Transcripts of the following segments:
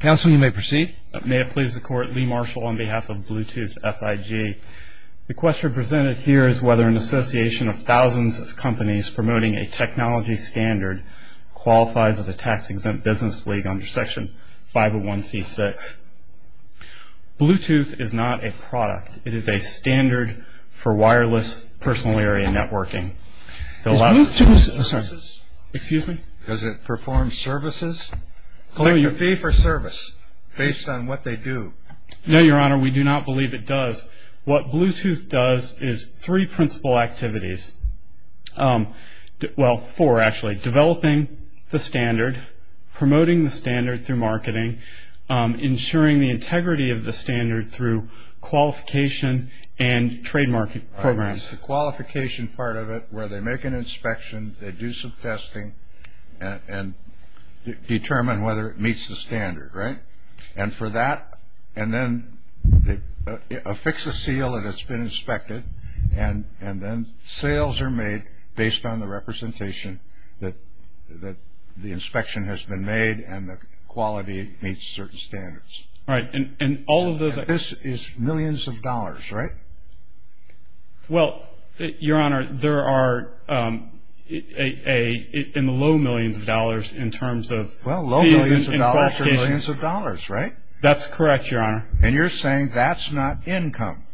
Council, you may proceed. May it please the Court, Lee Marshall on behalf of Bluetooth SIG. The question presented here is whether an association of thousands of companies promoting a technology standard qualifies as a tax-exempt business league under Section 501c6. Bluetooth is not a product. It is a standard for wireless personal area networking. Does Bluetooth – Excuse me? Does it perform services? Collect a fee for service based on what they do. No, Your Honor, we do not believe it does. What Bluetooth does is three principal activities – well, four, actually. Developing the standard, promoting the standard through marketing, ensuring the integrity of the standard through qualification and trademark programs. The qualification part of it, where they make an inspection, they do some testing, and determine whether it meets the standard, right? And for that – and then they affix a seal that it's been inspected, and then sales are made based on the representation that the inspection has been made and the quality meets certain standards. Right, and all of those – This is millions of dollars, right? Well, Your Honor, there are – in the low millions of dollars in terms of – Well, low millions of dollars are millions of dollars, right? That's correct, Your Honor. And you're saying that's not income?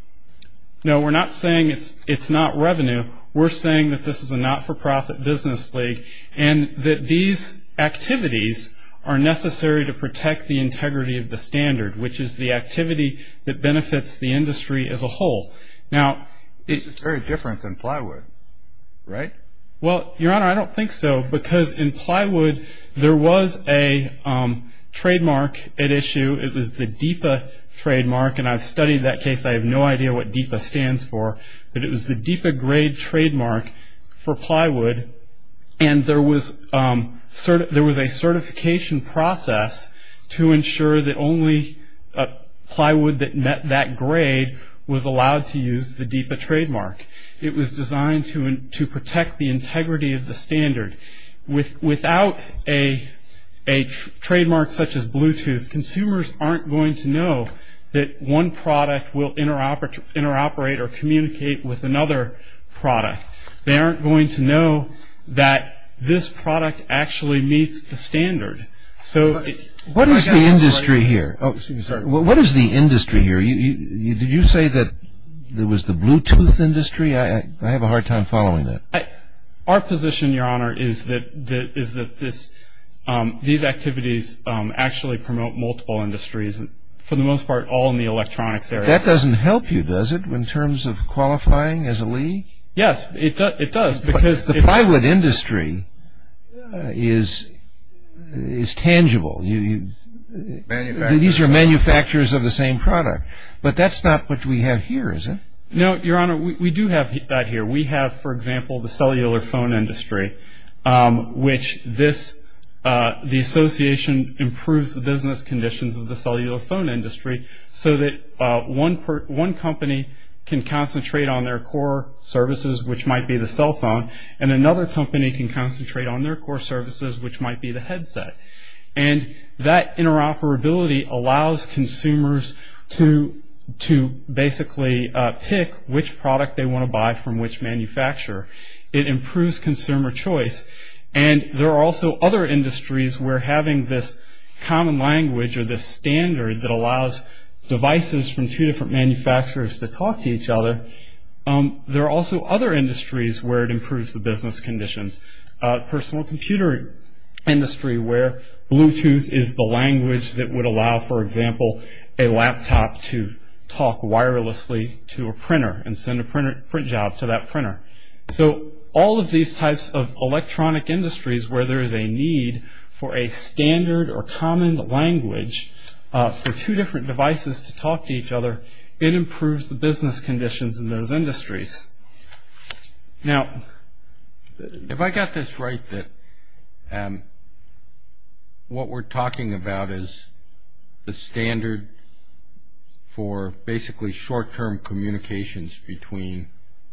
No, we're not saying it's not revenue. We're saying that this is a not-for-profit business league and that these activities are necessary to protect the integrity of the standard, which is the activity that benefits the industry as a whole. Now – It's very different than plywood, right? Well, Your Honor, I don't think so, because in plywood there was a trademark at issue. It was the DEPA trademark, and I've studied that case. I have no idea what DEPA stands for, but it was the DEPA grade trademark for plywood, and there was a certification process to ensure that only plywood that met that grade was allowed to use the DEPA trademark. It was designed to protect the integrity of the standard. Without a trademark such as Bluetooth, consumers aren't going to know that one product will interoperate or communicate with another product. They aren't going to know that this product actually meets the standard. What is the industry here? What is the industry here? Did you say that it was the Bluetooth industry? I have a hard time following that. Our position, Your Honor, is that these activities actually promote multiple industries, for the most part all in the electronics area. That doesn't help you, does it, in terms of qualifying as a league? Yes, it does. But the plywood industry is tangible. These are manufacturers of the same product. But that's not what we have here, is it? No, Your Honor, we do have that here. We have, for example, the cellular phone industry, which the association improves the business conditions of the cellular phone industry so that one company can concentrate on their core services, which might be the cell phone, and another company can concentrate on their core services, which might be the headset. And that interoperability allows consumers to basically pick which product they want to buy from which manufacturer. It improves consumer choice. And there are also other industries where having this common language or this standard that allows devices from two different manufacturers to talk to each other, there are also other industries where it improves the business conditions. Personal computer industry where Bluetooth is the language that would allow, for example, a laptop to talk wirelessly to a printer and send a print job to that printer. So all of these types of electronic industries where there is a need for a standard or common language for two different devices to talk to each other, it improves the business conditions in those industries. Now, if I got this right, that what we're talking about is the standard for basically short-term communications between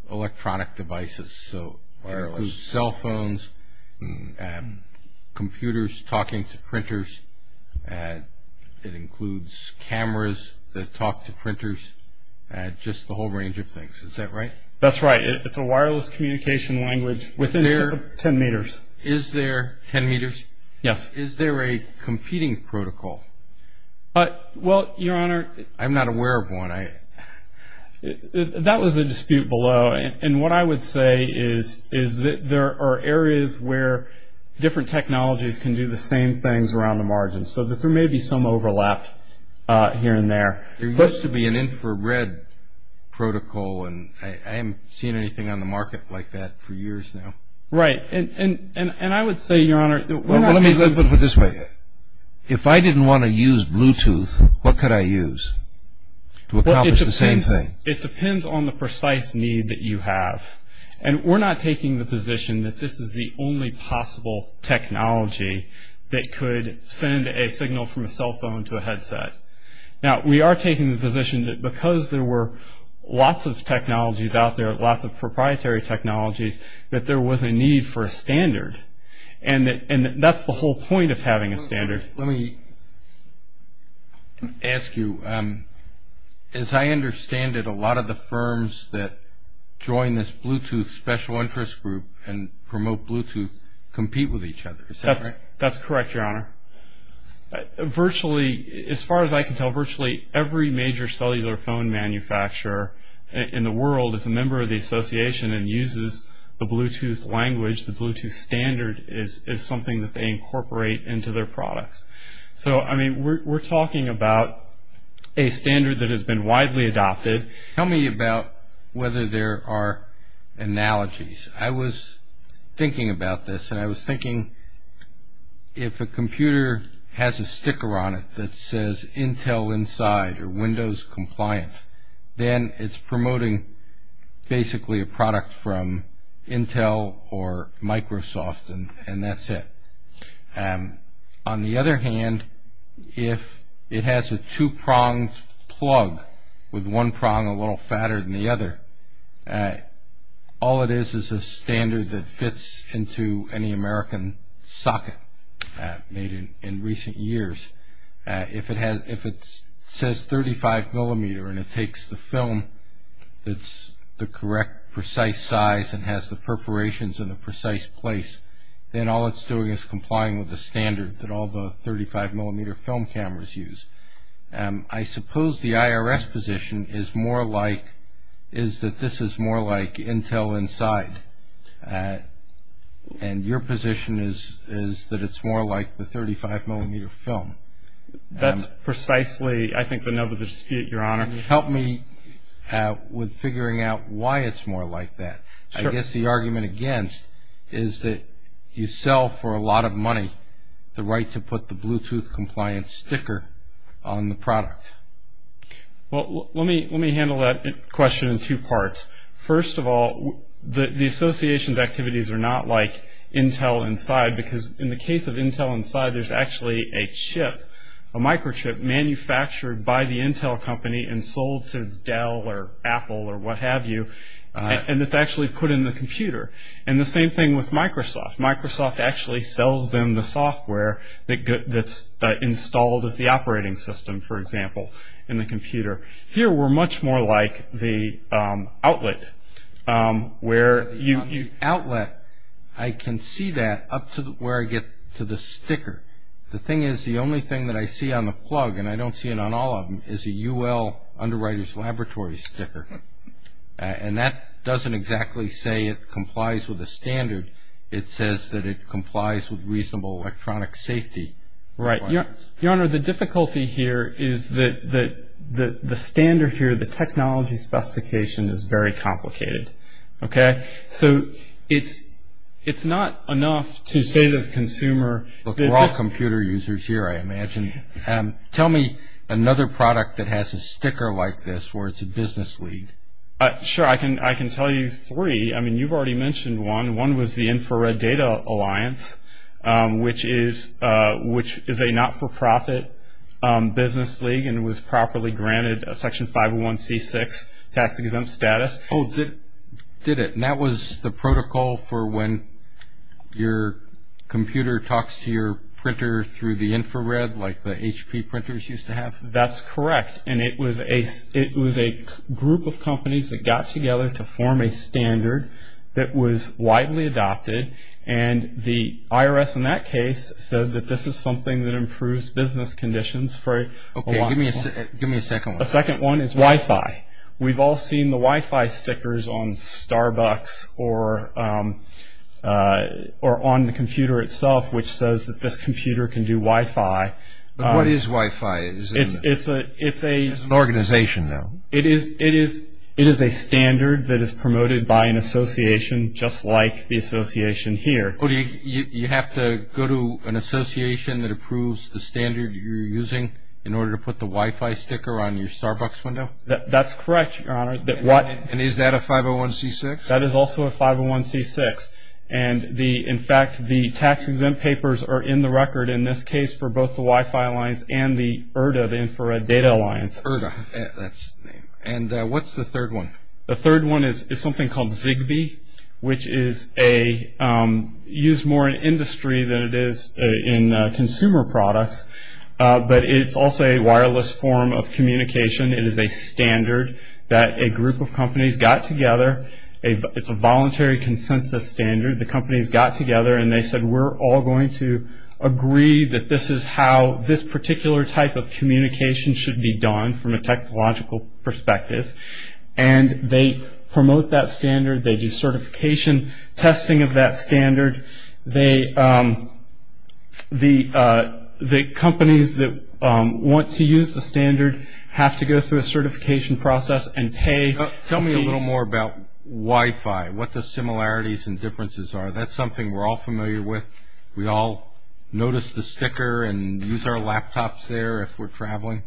electronic devices. So it includes cell phones and computers talking to printers. It includes cameras that talk to printers, just the whole range of things. Is that right? That's right. It's a wireless communication language within 10 meters. Is there 10 meters? Yes. Is there a competing protocol? Well, Your Honor, I'm not aware of one. That was a dispute below. And what I would say is that there are areas where different technologies can do the same things around the margin so that there may be some overlap here and there. There used to be an infrared protocol, and I haven't seen anything on the market like that for years now. Right. And I would say, Your Honor, Let me put it this way. If I didn't want to use Bluetooth, what could I use to accomplish the same thing? It depends on the precise need that you have. And we're not taking the position that this is the only possible technology that could send a signal from a cell phone to a headset. Now, we are taking the position that because there were lots of technologies out there, lots of proprietary technologies, that there was a need for a standard. And that's the whole point of having a standard. Let me ask you. As I understand it, a lot of the firms that join this Bluetooth special interest group and promote Bluetooth compete with each other. Is that right? That's correct, Your Honor. Virtually, as far as I can tell, virtually every major cellular phone manufacturer in the world is a member of the association and uses the Bluetooth language, the Bluetooth standard, is something that they incorporate into their products. So, I mean, we're talking about a standard that has been widely adopted. Tell me about whether there are analogies. I was thinking about this, and I was thinking if a computer has a sticker on it that says, Intel inside or Windows compliant, then it's promoting basically a product from Intel or Microsoft, and that's it. On the other hand, if it has a two-pronged plug with one prong a little fatter than the other, all it is is a standard that fits into any American socket made in recent years. If it says 35 millimeter and it takes the film that's the correct precise size and has the perforations in the precise place, then all it's doing is complying with the standard that all the 35 millimeter film cameras use. I suppose the IRS position is that this is more like Intel inside, and your position is that it's more like the 35 millimeter film. That's precisely, I think, the nub of the dispute, Your Honor. Help me with figuring out why it's more like that. I guess the argument against is that you sell for a lot of money the right to put the Bluetooth compliant sticker on the product. Well, let me handle that question in two parts. First of all, the association's activities are not like Intel inside because in the case of Intel inside, there's actually a chip, a microchip manufactured by the Intel company and sold to Dell or Apple or what have you, and it's actually put in the computer, and the same thing with Microsoft. Microsoft actually sells them the software that's installed as the operating system, for example, in the computer. Here, we're much more like the outlet. The outlet, I can see that up to where I get to the sticker. The thing is, the only thing that I see on the plug, and I don't see it on all of them, is a UL, Underwriters Laboratory, sticker, and that doesn't exactly say it complies with the standard. It says that it complies with reasonable electronic safety requirements. Your Honor, the difficulty here is that the standard here, the technology specification, is very complicated. So it's not enough to say to the consumer that this- Look, we're all computer users here, I imagine. Tell me another product that has a sticker like this where it's a business lead. Sure, I can tell you three. I mean, you've already mentioned one. One was the Infrared Data Alliance, which is a not-for-profit business league and was properly granted a Section 501c6 tax-exempt status. Oh, did it? And that was the protocol for when your computer talks to your printer through the infrared, like the HP printers used to have? That's correct. And it was a group of companies that got together to form a standard that was widely adopted, and the IRS in that case said that this is something that improves business conditions for a lot of people. Okay, give me a second one. A second one is Wi-Fi. We've all seen the Wi-Fi stickers on Starbucks or on the computer itself, which says that this computer can do Wi-Fi. But what is Wi-Fi? It's an organization, though. It is a standard that is promoted by an association just like the association here. You have to go to an association that approves the standard you're using in order to put the Wi-Fi sticker on your Starbucks window? That's correct, Your Honor. And is that a 501c6? That is also a 501c6. In fact, the tax-exempt papers are in the record in this case for both the Wi-Fi lines and the IRDA, the Infrared Data Alliance. IRDA, that's the name. And what's the third one? The third one is something called Zigbee, which is used more in industry than it is in consumer products, but it's also a wireless form of communication. It is a standard that a group of companies got together. It's a voluntary consensus standard. The companies got together and they said, we're all going to agree that this is how this particular type of communication should be done from a technological perspective. And they promote that standard. They do certification testing of that standard. The companies that want to use the standard have to go through a certification process and pay. Tell me a little more about Wi-Fi, what the similarities and differences are. That's something we're all familiar with. We all notice the sticker and use our laptops there if we're traveling.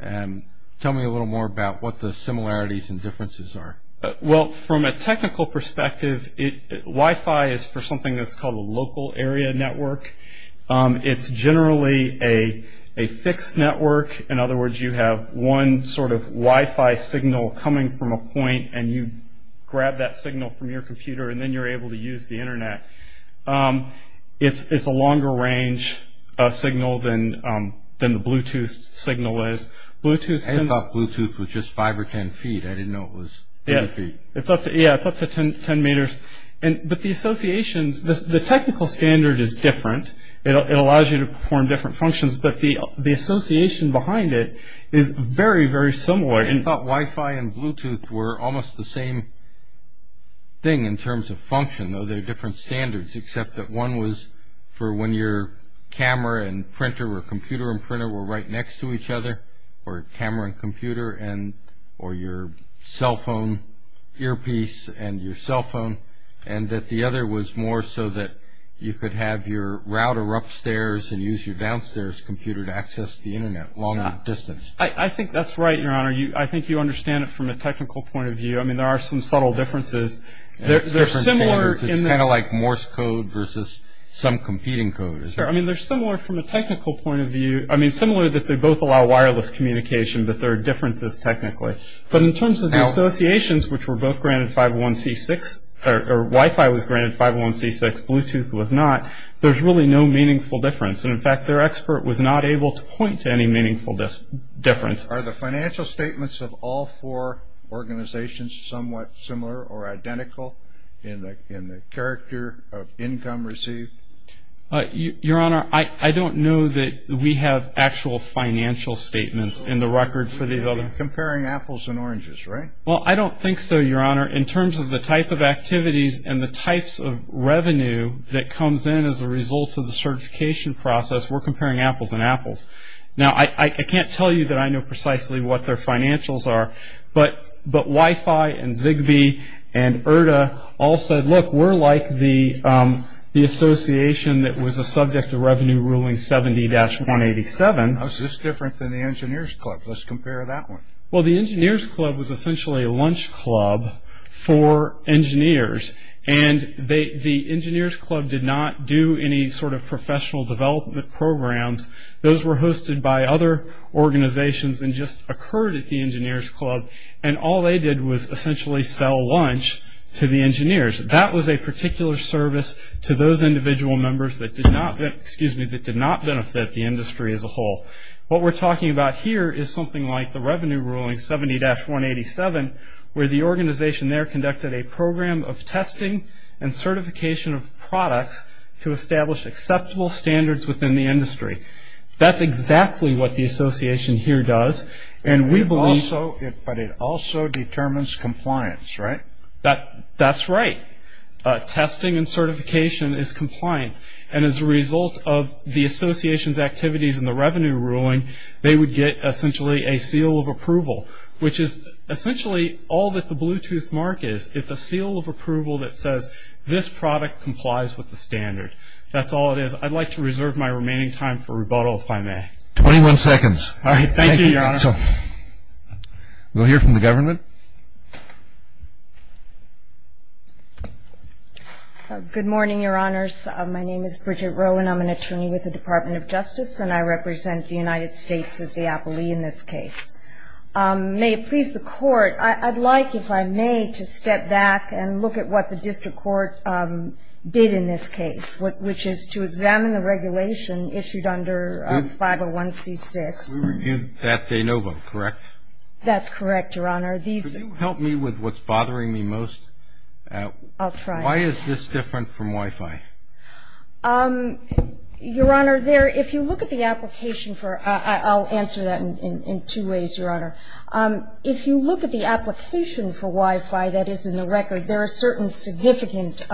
Tell me a little more about what the similarities and differences are. Well, from a technical perspective, Wi-Fi is for something that's called a local area network. It's generally a fixed network. In other words, you have one sort of Wi-Fi signal coming from a point and you grab that signal from your computer and then you're able to use the Internet. It's a longer range signal than the Bluetooth signal is. I thought Bluetooth was just five or ten feet. I didn't know it was ten feet. Yeah, it's up to ten meters. But the associations, the technical standard is different. It allows you to perform different functions, but the association behind it is very, very similar. I thought Wi-Fi and Bluetooth were almost the same thing in terms of function, though they're different standards, except that one was for when your camera and printer or computer and printer were right next to each other or camera and computer or your cell phone earpiece and your cell phone, and that the other was more so that you could have your router upstairs and use your downstairs computer to access the Internet longer distance. I think that's right, Your Honor. I think you understand it from a technical point of view. I mean, there are some subtle differences. It's different standards. It's kind of like Morse code versus some competing code. I mean, they're similar from a technical point of view. I mean, similar that they both allow wireless communication, but there are differences technically. But in terms of the associations, which were both granted 501C6, or Wi-Fi was granted 501C6, Bluetooth was not, there's really no meaningful difference. And, in fact, their expert was not able to point to any meaningful difference. Are the financial statements of all four organizations somewhat similar or identical in the character of income received? Your Honor, I don't know that we have actual financial statements in the record for these other. We're comparing apples and oranges, right? Well, I don't think so, Your Honor. In terms of the type of activities and the types of revenue that comes in as a result of the certification process, we're comparing apples and apples. Now, I can't tell you that I know precisely what their financials are, but Wi-Fi and Zigbee and IRTA all said, look, we're like the association that was a subject of revenue ruling 70-187. Now, is this different than the Engineer's Club? Let's compare that one. Well, the Engineer's Club was essentially a lunch club for engineers, and the Engineer's Club did not do any sort of professional development programs. Those were hosted by other organizations and just occurred at the Engineer's Club, and all they did was essentially sell lunch to the engineers. That was a particular service to those individual members that did not benefit the industry as a whole. What we're talking about here is something like the revenue ruling 70-187, where the organization there conducted a program of testing and certification of products to establish acceptable standards within the industry. That's exactly what the association here does. But it also determines compliance, right? That's right. Testing and certification is compliance, and as a result of the association's activities in the revenue ruling, they would get essentially a seal of approval, which is essentially all that the Bluetooth mark is. It's a seal of approval that says this product complies with the standard. That's all it is. I'd like to reserve my remaining time for rebuttal, if I may. Twenty-one seconds. All right. Thank you, Your Honor. Rebuttal. We'll hear from the government. Good morning, Your Honors. My name is Bridget Rowan. I'm an attorney with the Department of Justice, and I represent the United States as the appellee in this case. May it please the Court, I'd like, if I may, to step back and look at what the district court did in this case, which is to examine the regulation issued under 501c6. We reviewed that de novo, correct? That's correct, Your Honor. Could you help me with what's bothering me most? I'll try. Why is this different from Wi-Fi? Your Honor, there – if you look at the application for – I'll answer that in two ways, Your Honor. If you look at the application for Wi-Fi that is in the record, there are certain significant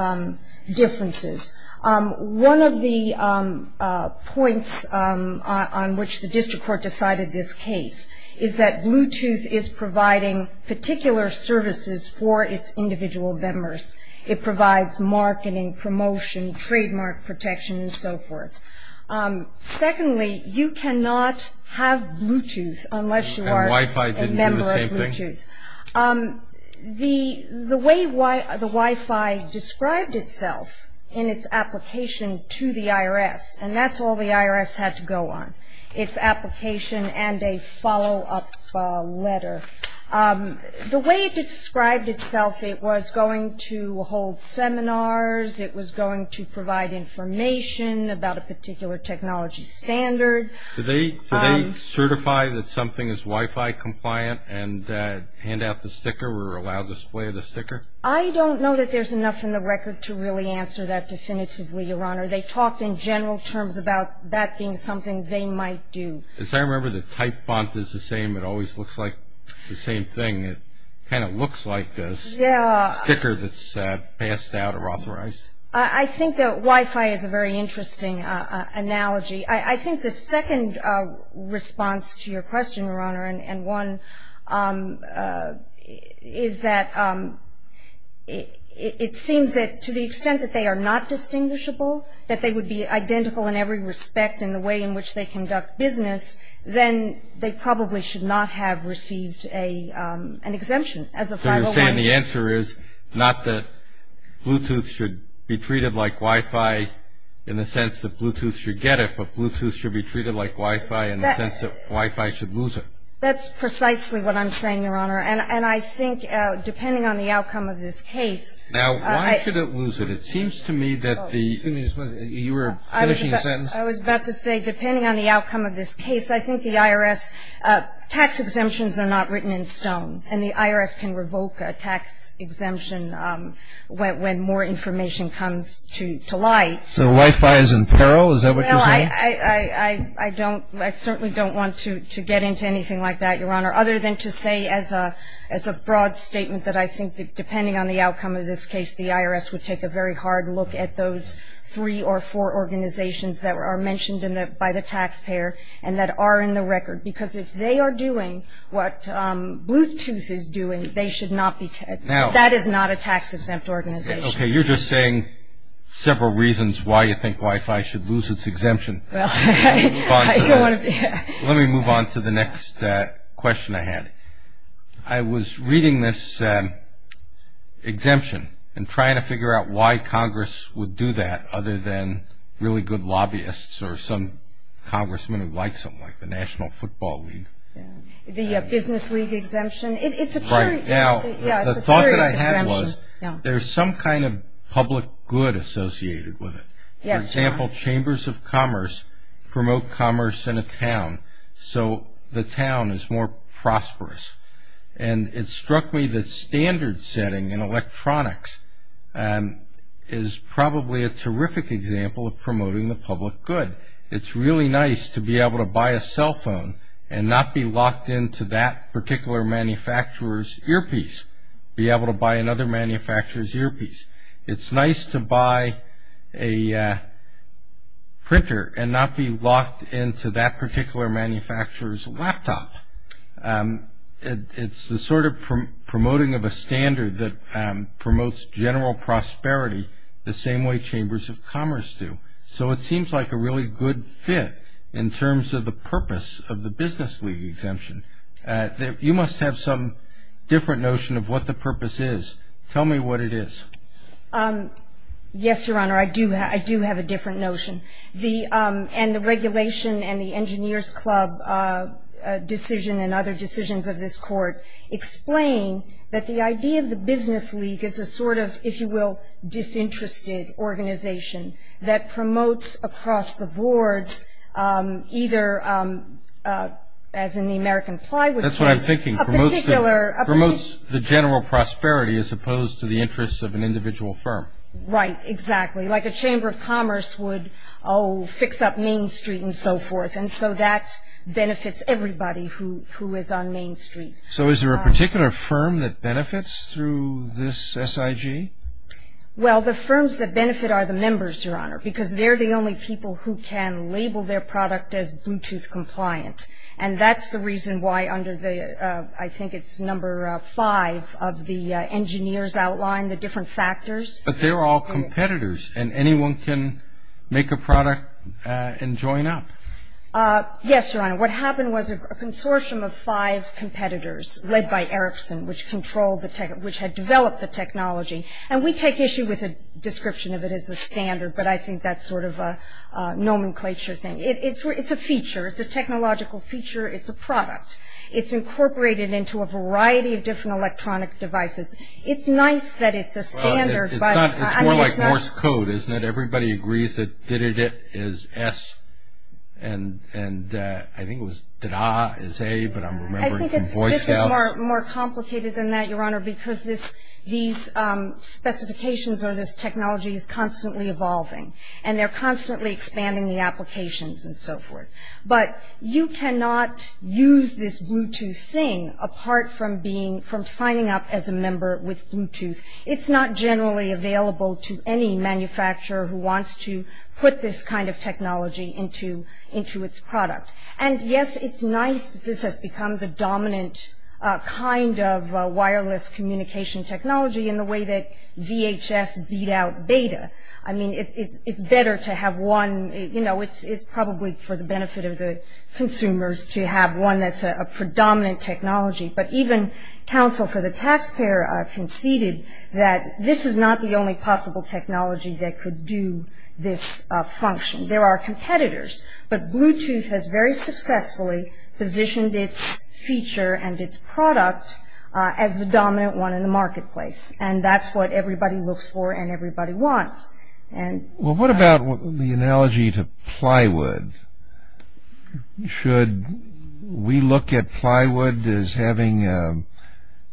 differences. One of the points on which the district court decided this case is that Bluetooth is providing particular services for its individual members. It provides marketing, promotion, trademark protection, and so forth. Secondly, you cannot have Bluetooth unless you are a member of Bluetooth. And Wi-Fi didn't do the same thing? The way the Wi-Fi described itself in its application to the IRS, and that's all the IRS had to go on, its application and a follow-up letter. The way it described itself, it was going to hold seminars, it was going to provide information about a particular technology standard. Do they certify that something is Wi-Fi compliant and hand out the sticker or allow display of the sticker? I don't know that there's enough in the record to really answer that definitively, Your Honor. They talked in general terms about that being something they might do. As I remember, the type font is the same. It always looks like the same thing. It kind of looks like a sticker that's passed out or authorized. I think that Wi-Fi is a very interesting analogy. I think the second response to your question, Your Honor, and one is that it seems that to the extent that they are not distinguishable, that they would be identical in every respect in the way in which they conduct business, then they probably should not have received an exemption as a 501. So you're saying the answer is not that Bluetooth should be treated like Wi-Fi in the sense that Bluetooth should get it, but Bluetooth should be treated like Wi-Fi in the sense that Wi-Fi should lose it? That's precisely what I'm saying, Your Honor. And I think depending on the outcome of this case. Now, why should it lose it? It seems to me that the you were finishing a sentence. I was about to say depending on the outcome of this case, I think the IRS tax exemptions are not written in stone, and the IRS can revoke a tax exemption when more information comes to light. So Wi-Fi is in peril? Is that what you're saying? Well, I don't, I certainly don't want to get into anything like that, Your Honor, other than to say as a broad statement that I think that depending on the outcome of this case, the IRS would take a very hard look at those three or four organizations that are mentioned by the taxpayer and that are in the record, because if they are doing what Bluetooth is doing, they should not be, that is not a tax exempt organization. Okay. You're just saying several reasons why you think Wi-Fi should lose its exemption. Well, I don't want to. Let me move on to the next question I had. I was reading this exemption and trying to figure out why Congress would do that, other than really good lobbyists or some congressmen who like something like the National Football League. The Business League exemption. It's a curious exemption. There's some kind of public good associated with it. Yes. For example, Chambers of Commerce promote commerce in a town, so the town is more prosperous. And it struck me that standard setting in electronics is probably a terrific example of promoting the public good. It's really nice to be able to buy a cell phone and not be locked into that particular manufacturer's earpiece, be able to buy another manufacturer's earpiece. It's nice to buy a printer and not be locked into that particular manufacturer's laptop. It's the sort of promoting of a standard that promotes general prosperity the same way Chambers of Commerce do. So it seems like a really good fit in terms of the purpose of the Business League exemption. You must have some different notion of what the purpose is. Tell me what it is. Yes, Your Honor. I do have a different notion. And the regulation and the Engineers Club decision and other decisions of this court explain that the idea of the Business League is a sort of, if you will, disinterested organization that promotes across the boards either, as in the American Plywood case, a particular position. That's what I'm thinking. Promotes the general prosperity as opposed to the interests of an individual firm. Right, exactly. Like a Chamber of Commerce would, oh, fix up Main Street and so forth. And so that benefits everybody who is on Main Street. So is there a particular firm that benefits through this SIG? Well, the firms that benefit are the members, Your Honor, because they're the only people who can label their product as Bluetooth compliant. And that's the reason why under the, I think it's number five of the engineers outlined, the different factors. But they're all competitors, and anyone can make a product and join up. Yes, Your Honor. What happened was a consortium of five competitors led by Ericsson, which controlled the tech, which had developed the technology. And we take issue with a description of it as a standard, but I think that's sort of a nomenclature thing. It's a feature. It's a technological feature. It's a product. It's incorporated into a variety of different electronic devices. It's nice that it's a standard, but I mean, it's not. It's more like Morse code, isn't it? Everybody agrees that da-da-da is S, and I think it was da-da is A, but I'm remembering from voiceouts. This is more complicated than that, Your Honor, because these specifications or this technology is constantly evolving, and they're constantly expanding the applications and so forth. But you cannot use this Bluetooth thing apart from signing up as a member with Bluetooth. It's not generally available to any manufacturer who wants to put this kind of technology into its product. And, yes, it's nice that this has become the dominant kind of wireless communication technology in the way that VHS beat out beta. I mean, it's better to have one, you know, it's probably for the benefit of the consumers to have one that's a predominant technology. But even counsel for the taxpayer conceded that this is not the only possible technology that could do this function. There are competitors, but Bluetooth has very successfully positioned its feature and its product as the dominant one in the marketplace, and that's what everybody looks for and everybody wants. Well, what about the analogy to plywood? Should we look at plywood as having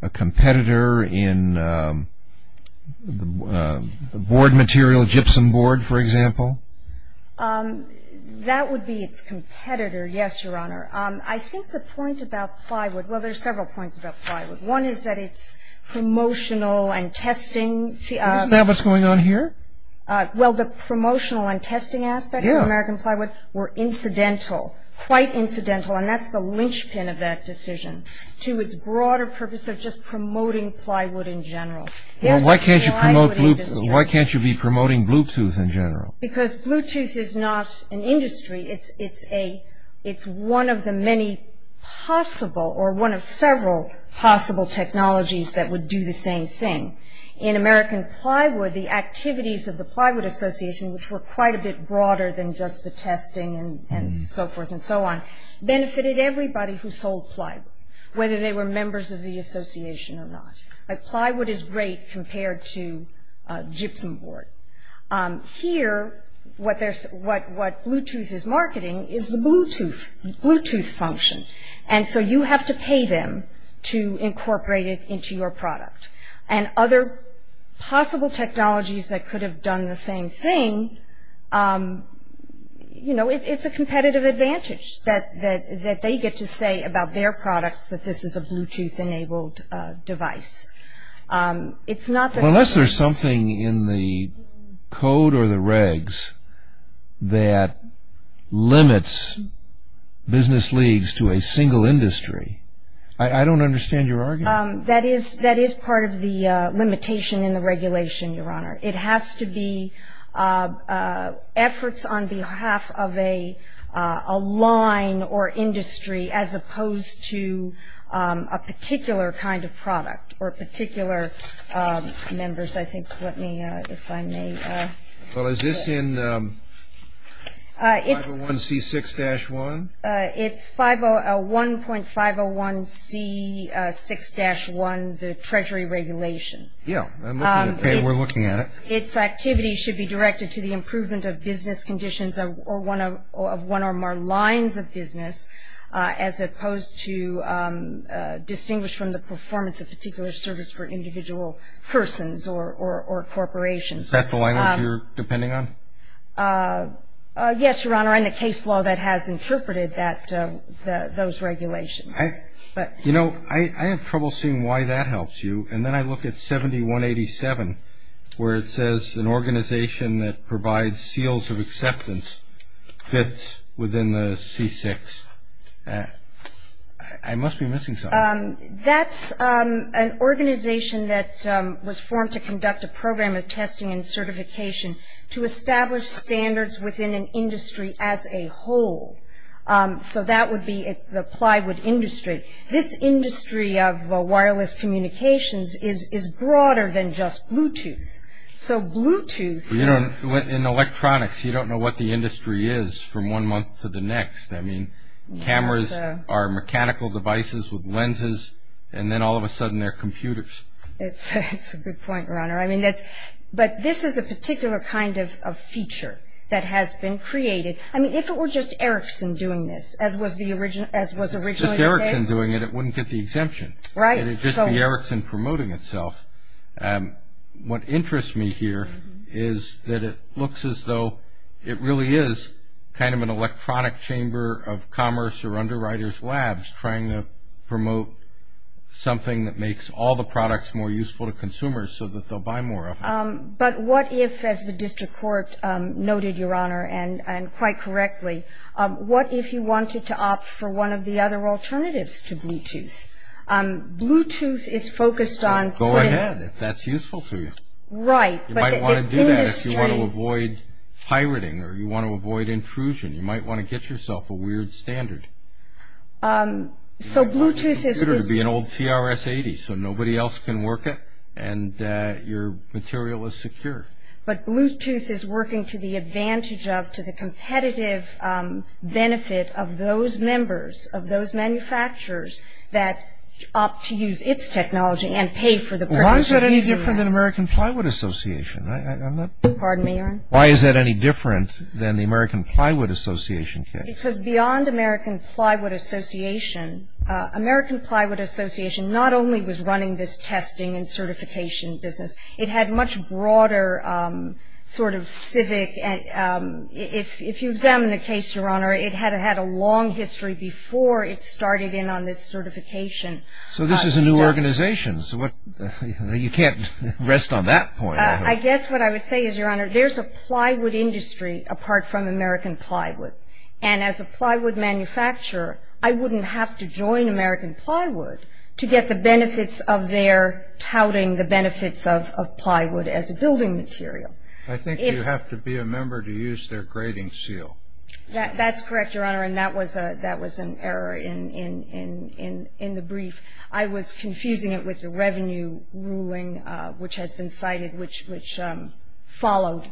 a competitor in the board material, gypsum board, for example? That would be its competitor, yes, Your Honor. I think the point about plywood, well, there's several points about plywood. One is that it's promotional and testing. Isn't that what's going on here? Well, the promotional and testing aspects of American plywood were incidental, quite incidental, and that's the linchpin of that decision to its broader purpose of just promoting plywood in general. Well, why can't you be promoting Bluetooth in general? Because Bluetooth is not an industry. It's one of the many possible or one of several possible technologies that would do the same thing. In American plywood, the activities of the Plywood Association, which were quite a bit broader than just the testing and so forth and so on, benefited everybody who sold plywood, whether they were members of the association or not. Plywood is great compared to gypsum board. Here, what Bluetooth is marketing is the Bluetooth function, and so you have to pay them to incorporate it into your product, and other possible technologies that could have done the same thing, it's a competitive advantage that they get to say about their products that this is a Bluetooth-enabled device. Unless there's something in the code or the regs that limits business leagues to a single industry. I don't understand your argument. That is part of the limitation in the regulation, Your Honor. It has to be efforts on behalf of a line or industry as opposed to a particular kind of product or particular members, I think. Let me, if I may. Well, is this in 501C6-1? It's 1.501C6-1, the treasury regulation. Yeah. Okay, we're looking at it. Its activities should be directed to the improvement of business conditions of one or more lines of business as opposed to distinguish from the performance of particular service for individual persons or corporations. Is that the language you're depending on? Yes, Your Honor, in the case law that has interpreted those regulations. You know, I have trouble seeing why that helps you. And then I look at 7187 where it says an organization that provides seals of acceptance fits within the C6. I must be missing something. That's an organization that was formed to conduct a program of testing and certification to establish standards within an industry as a whole. So that would be the plywood industry. This industry of wireless communications is broader than just Bluetooth. So Bluetooth is… In electronics, you don't know what the industry is from one month to the next. I mean, cameras are mechanical devices with lenses, and then all of a sudden they're computers. It's a good point, Your Honor. I mean, but this is a particular kind of feature that has been created. I mean, if it were just Ericsson doing this, as was originally the case… Just Ericsson doing it, it wouldn't get the exemption. Right. It would just be Ericsson promoting itself. What interests me here is that it looks as though it really is kind of an electronic chamber of commerce or underwriters' labs trying to promote something that makes all the products more useful to consumers so that they'll buy more of them. But what if, as the district court noted, Your Honor, and quite correctly, what if you wanted to opt for one of the other alternatives to Bluetooth? Bluetooth is focused on… Go ahead, if that's useful to you. Right. You might want to do that if you want to avoid pirating or you want to avoid intrusion. You might want to get yourself a weird standard. So Bluetooth is… Consider it to be an old TRS-80 so nobody else can work it and your material is secure. But Bluetooth is working to the advantage of, to the competitive benefit of those members, of those manufacturers that opt to use its technology and pay for the… Why is that any different than American Plywood Association? Pardon me, Your Honor? Why is that any different than the American Plywood Association case? Because beyond American Plywood Association, American Plywood Association not only was running this testing and certification business, it had much broader sort of civic… If you examine the case, Your Honor, it had a long history before it started in on this certification. So this is a new organization. You can't rest on that point. I guess what I would say is, Your Honor, there's a plywood industry apart from American Plywood. And as a plywood manufacturer, I wouldn't have to join American Plywood to get the benefits of their touting the benefits of plywood as a building material. I think you have to be a member to use their grading seal. That's correct, Your Honor, and that was an error in the brief. I was confusing it with the revenue ruling, which has been cited, which followed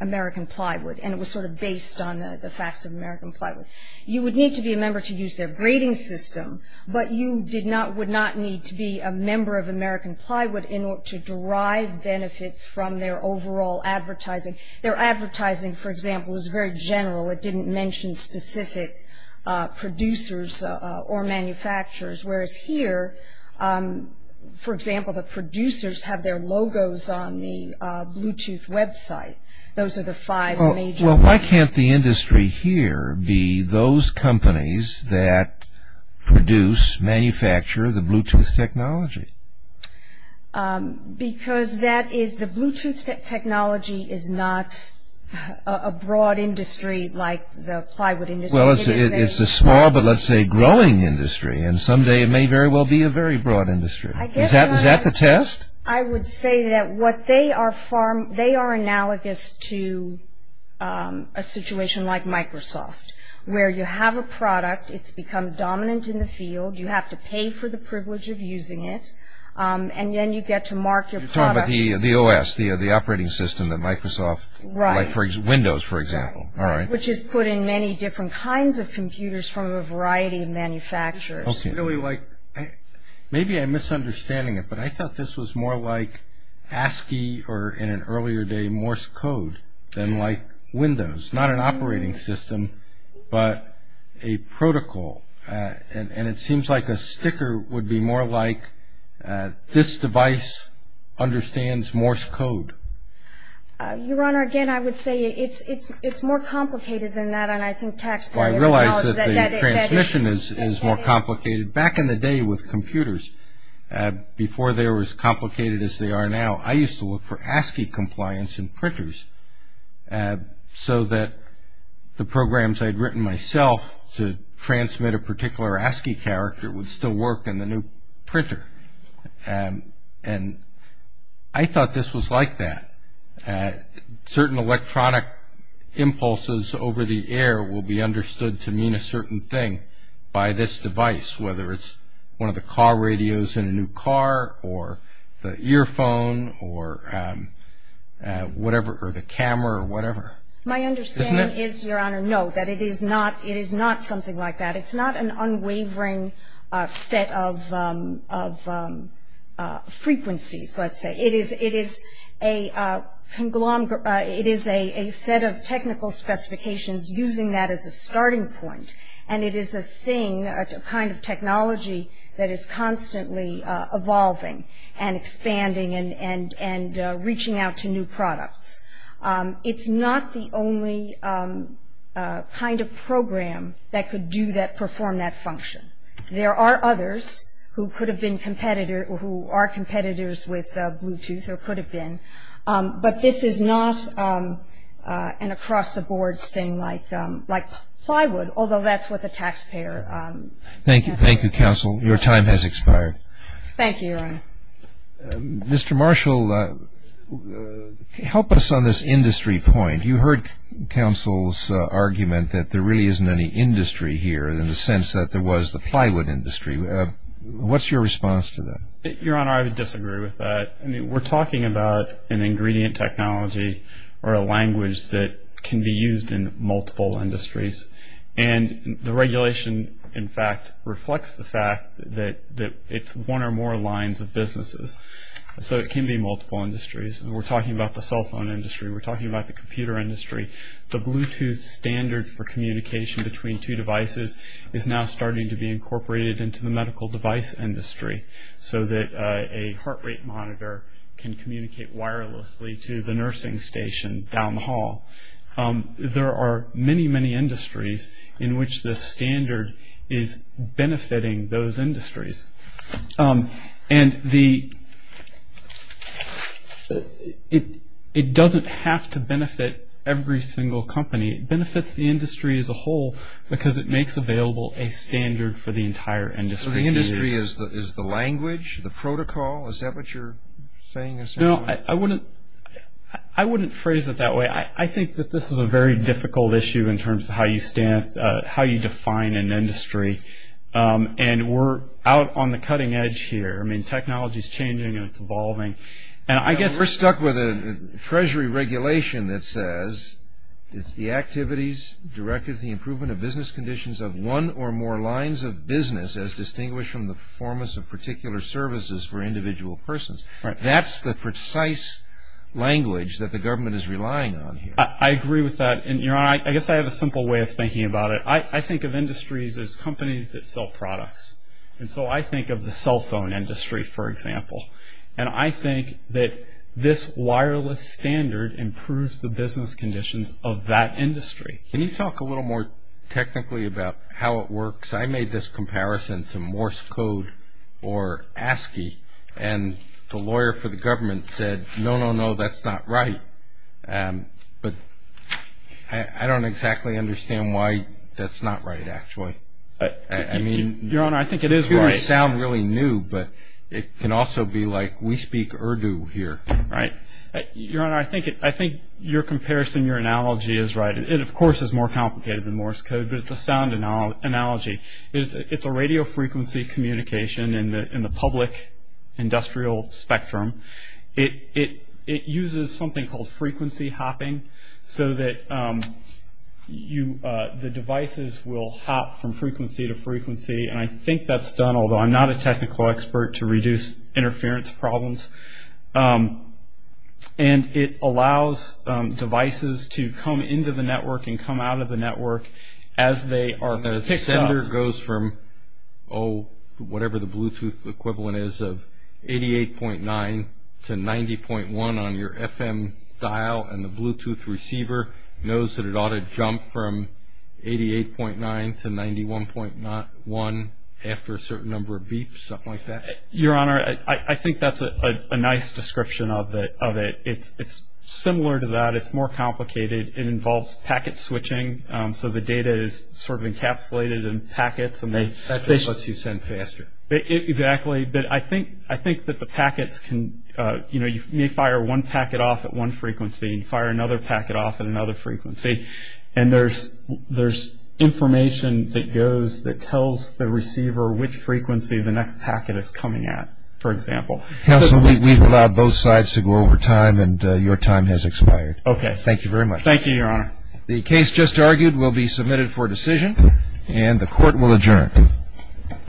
American Plywood, and it was sort of based on the facts of American Plywood. You would need to be a member to use their grading system, but you would not need to be a member of American Plywood to derive benefits from their overall advertising. Their advertising, for example, is very general. It didn't mention specific producers or manufacturers, whereas here, for example, the producers have their logos on the Bluetooth website. Those are the five major… Because the Bluetooth technology is not a broad industry like the plywood industry. Well, it's a small but, let's say, growing industry, and someday it may very well be a very broad industry. Is that the test? I would say that they are analogous to a situation like Microsoft, where you have a product, it's become dominant in the field, you have to pay for the privilege of using it, and then you get to mark your product. You're talking about the OS, the operating system that Microsoft… Right. Windows, for example, all right. Which is put in many different kinds of computers from a variety of manufacturers. Maybe I'm misunderstanding it, but I thought this was more like ASCII or, in an earlier day, Morse code than like Windows. Not an operating system, but a protocol. And it seems like a sticker would be more like, this device understands Morse code. Your Honor, again, I would say it's more complicated than that, and I think taxpayers… Well, I realize that the transmission is more complicated. Back in the day with computers, before they were as complicated as they are now, I used to look for ASCII compliance in printers so that the programs I had written myself to transmit a particular ASCII character would still work in the new printer. And I thought this was like that. Certain electronic impulses over the air will be understood to mean a certain thing by this device, whether it's one of the car radios in a new car or the earphone or the camera or whatever. My understanding is, Your Honor, no, that it is not something like that. It's not an unwavering set of frequencies, let's say. It is a set of technical specifications using that as a starting point, and it is a thing, a kind of technology that is constantly evolving and expanding and reaching out to new products. It's not the only kind of program that could do that, perform that function. There are others who are competitors with Bluetooth or could have been, but this is not an across-the-boards thing like plywood, although that's what the taxpayer can pay. Thank you, Counsel. Your time has expired. Thank you, Your Honor. Mr. Marshall, help us on this industry point. You heard Counsel's argument that there really isn't any industry here in the sense that there was the plywood industry. What's your response to that? Your Honor, I would disagree with that. We're talking about an ingredient technology or a language that can be used in multiple industries, and the regulation, in fact, reflects the fact that it's one or more lines of businesses, so it can be multiple industries. We're talking about the cell phone industry. We're talking about the computer industry. The Bluetooth standard for communication between two devices is now starting to be incorporated into the medical device industry so that a heart rate monitor can communicate wirelessly to the nursing station down the hall. There are many, many industries in which this standard is benefiting those industries, and it doesn't have to benefit every single company. It benefits the industry as a whole because it makes available a standard for the entire industry. So the industry is the language, the protocol? Is that what you're saying essentially? No, I wouldn't phrase it that way. I think that this is a very difficult issue in terms of how you define an industry, and we're out on the cutting edge here. I mean, technology is changing and it's evolving. We're stuck with a treasury regulation that says it's the activities directed at the improvement of business conditions of one or more lines of business as distinguished from the performance of particular services for individual persons. That's the precise language that the government is relying on here. I agree with that, and, Your Honor, I guess I have a simple way of thinking about it. I think of industries as companies that sell products, and so I think of the cell phone industry, for example, and I think that this wireless standard improves the business conditions of that industry. Can you talk a little more technically about how it works? I made this comparison to Morse code or ASCII, and the lawyer for the government said, no, no, no, that's not right. But I don't exactly understand why that's not right actually. I mean, it could sound really new, but it can also be like we speak Urdu here. Right. Your Honor, I think your comparison, your analogy is right. It, of course, is more complicated than Morse code, but it's a sound analogy. It's a radio frequency communication in the public industrial spectrum. It uses something called frequency hopping so that the devices will hop from frequency to frequency, and I think that's done, although I'm not a technical expert to reduce interference problems, and it allows devices to come into the network and come out of the network as they are picked up. And the sender goes from, oh, whatever the Bluetooth equivalent is of 88.9 to 90.1 on your FM dial, and the Bluetooth receiver knows that it ought to jump from 88.9 to 91.1 after a certain number of beeps, something like that? Your Honor, I think that's a nice description of it. It's similar to that. It's more complicated. It involves packet switching, so the data is sort of encapsulated in packets. That just lets you send faster. Exactly. But I think that the packets can, you know, you may fire one packet off at one frequency and fire another packet off at another frequency, and there's information that goes that tells the receiver which frequency the next packet is coming at, for example. Counsel, we've allowed both sides to go over time, and your time has expired. Okay. Thank you very much. Thank you, Your Honor. The case just argued will be submitted for decision, and the Court will adjourn.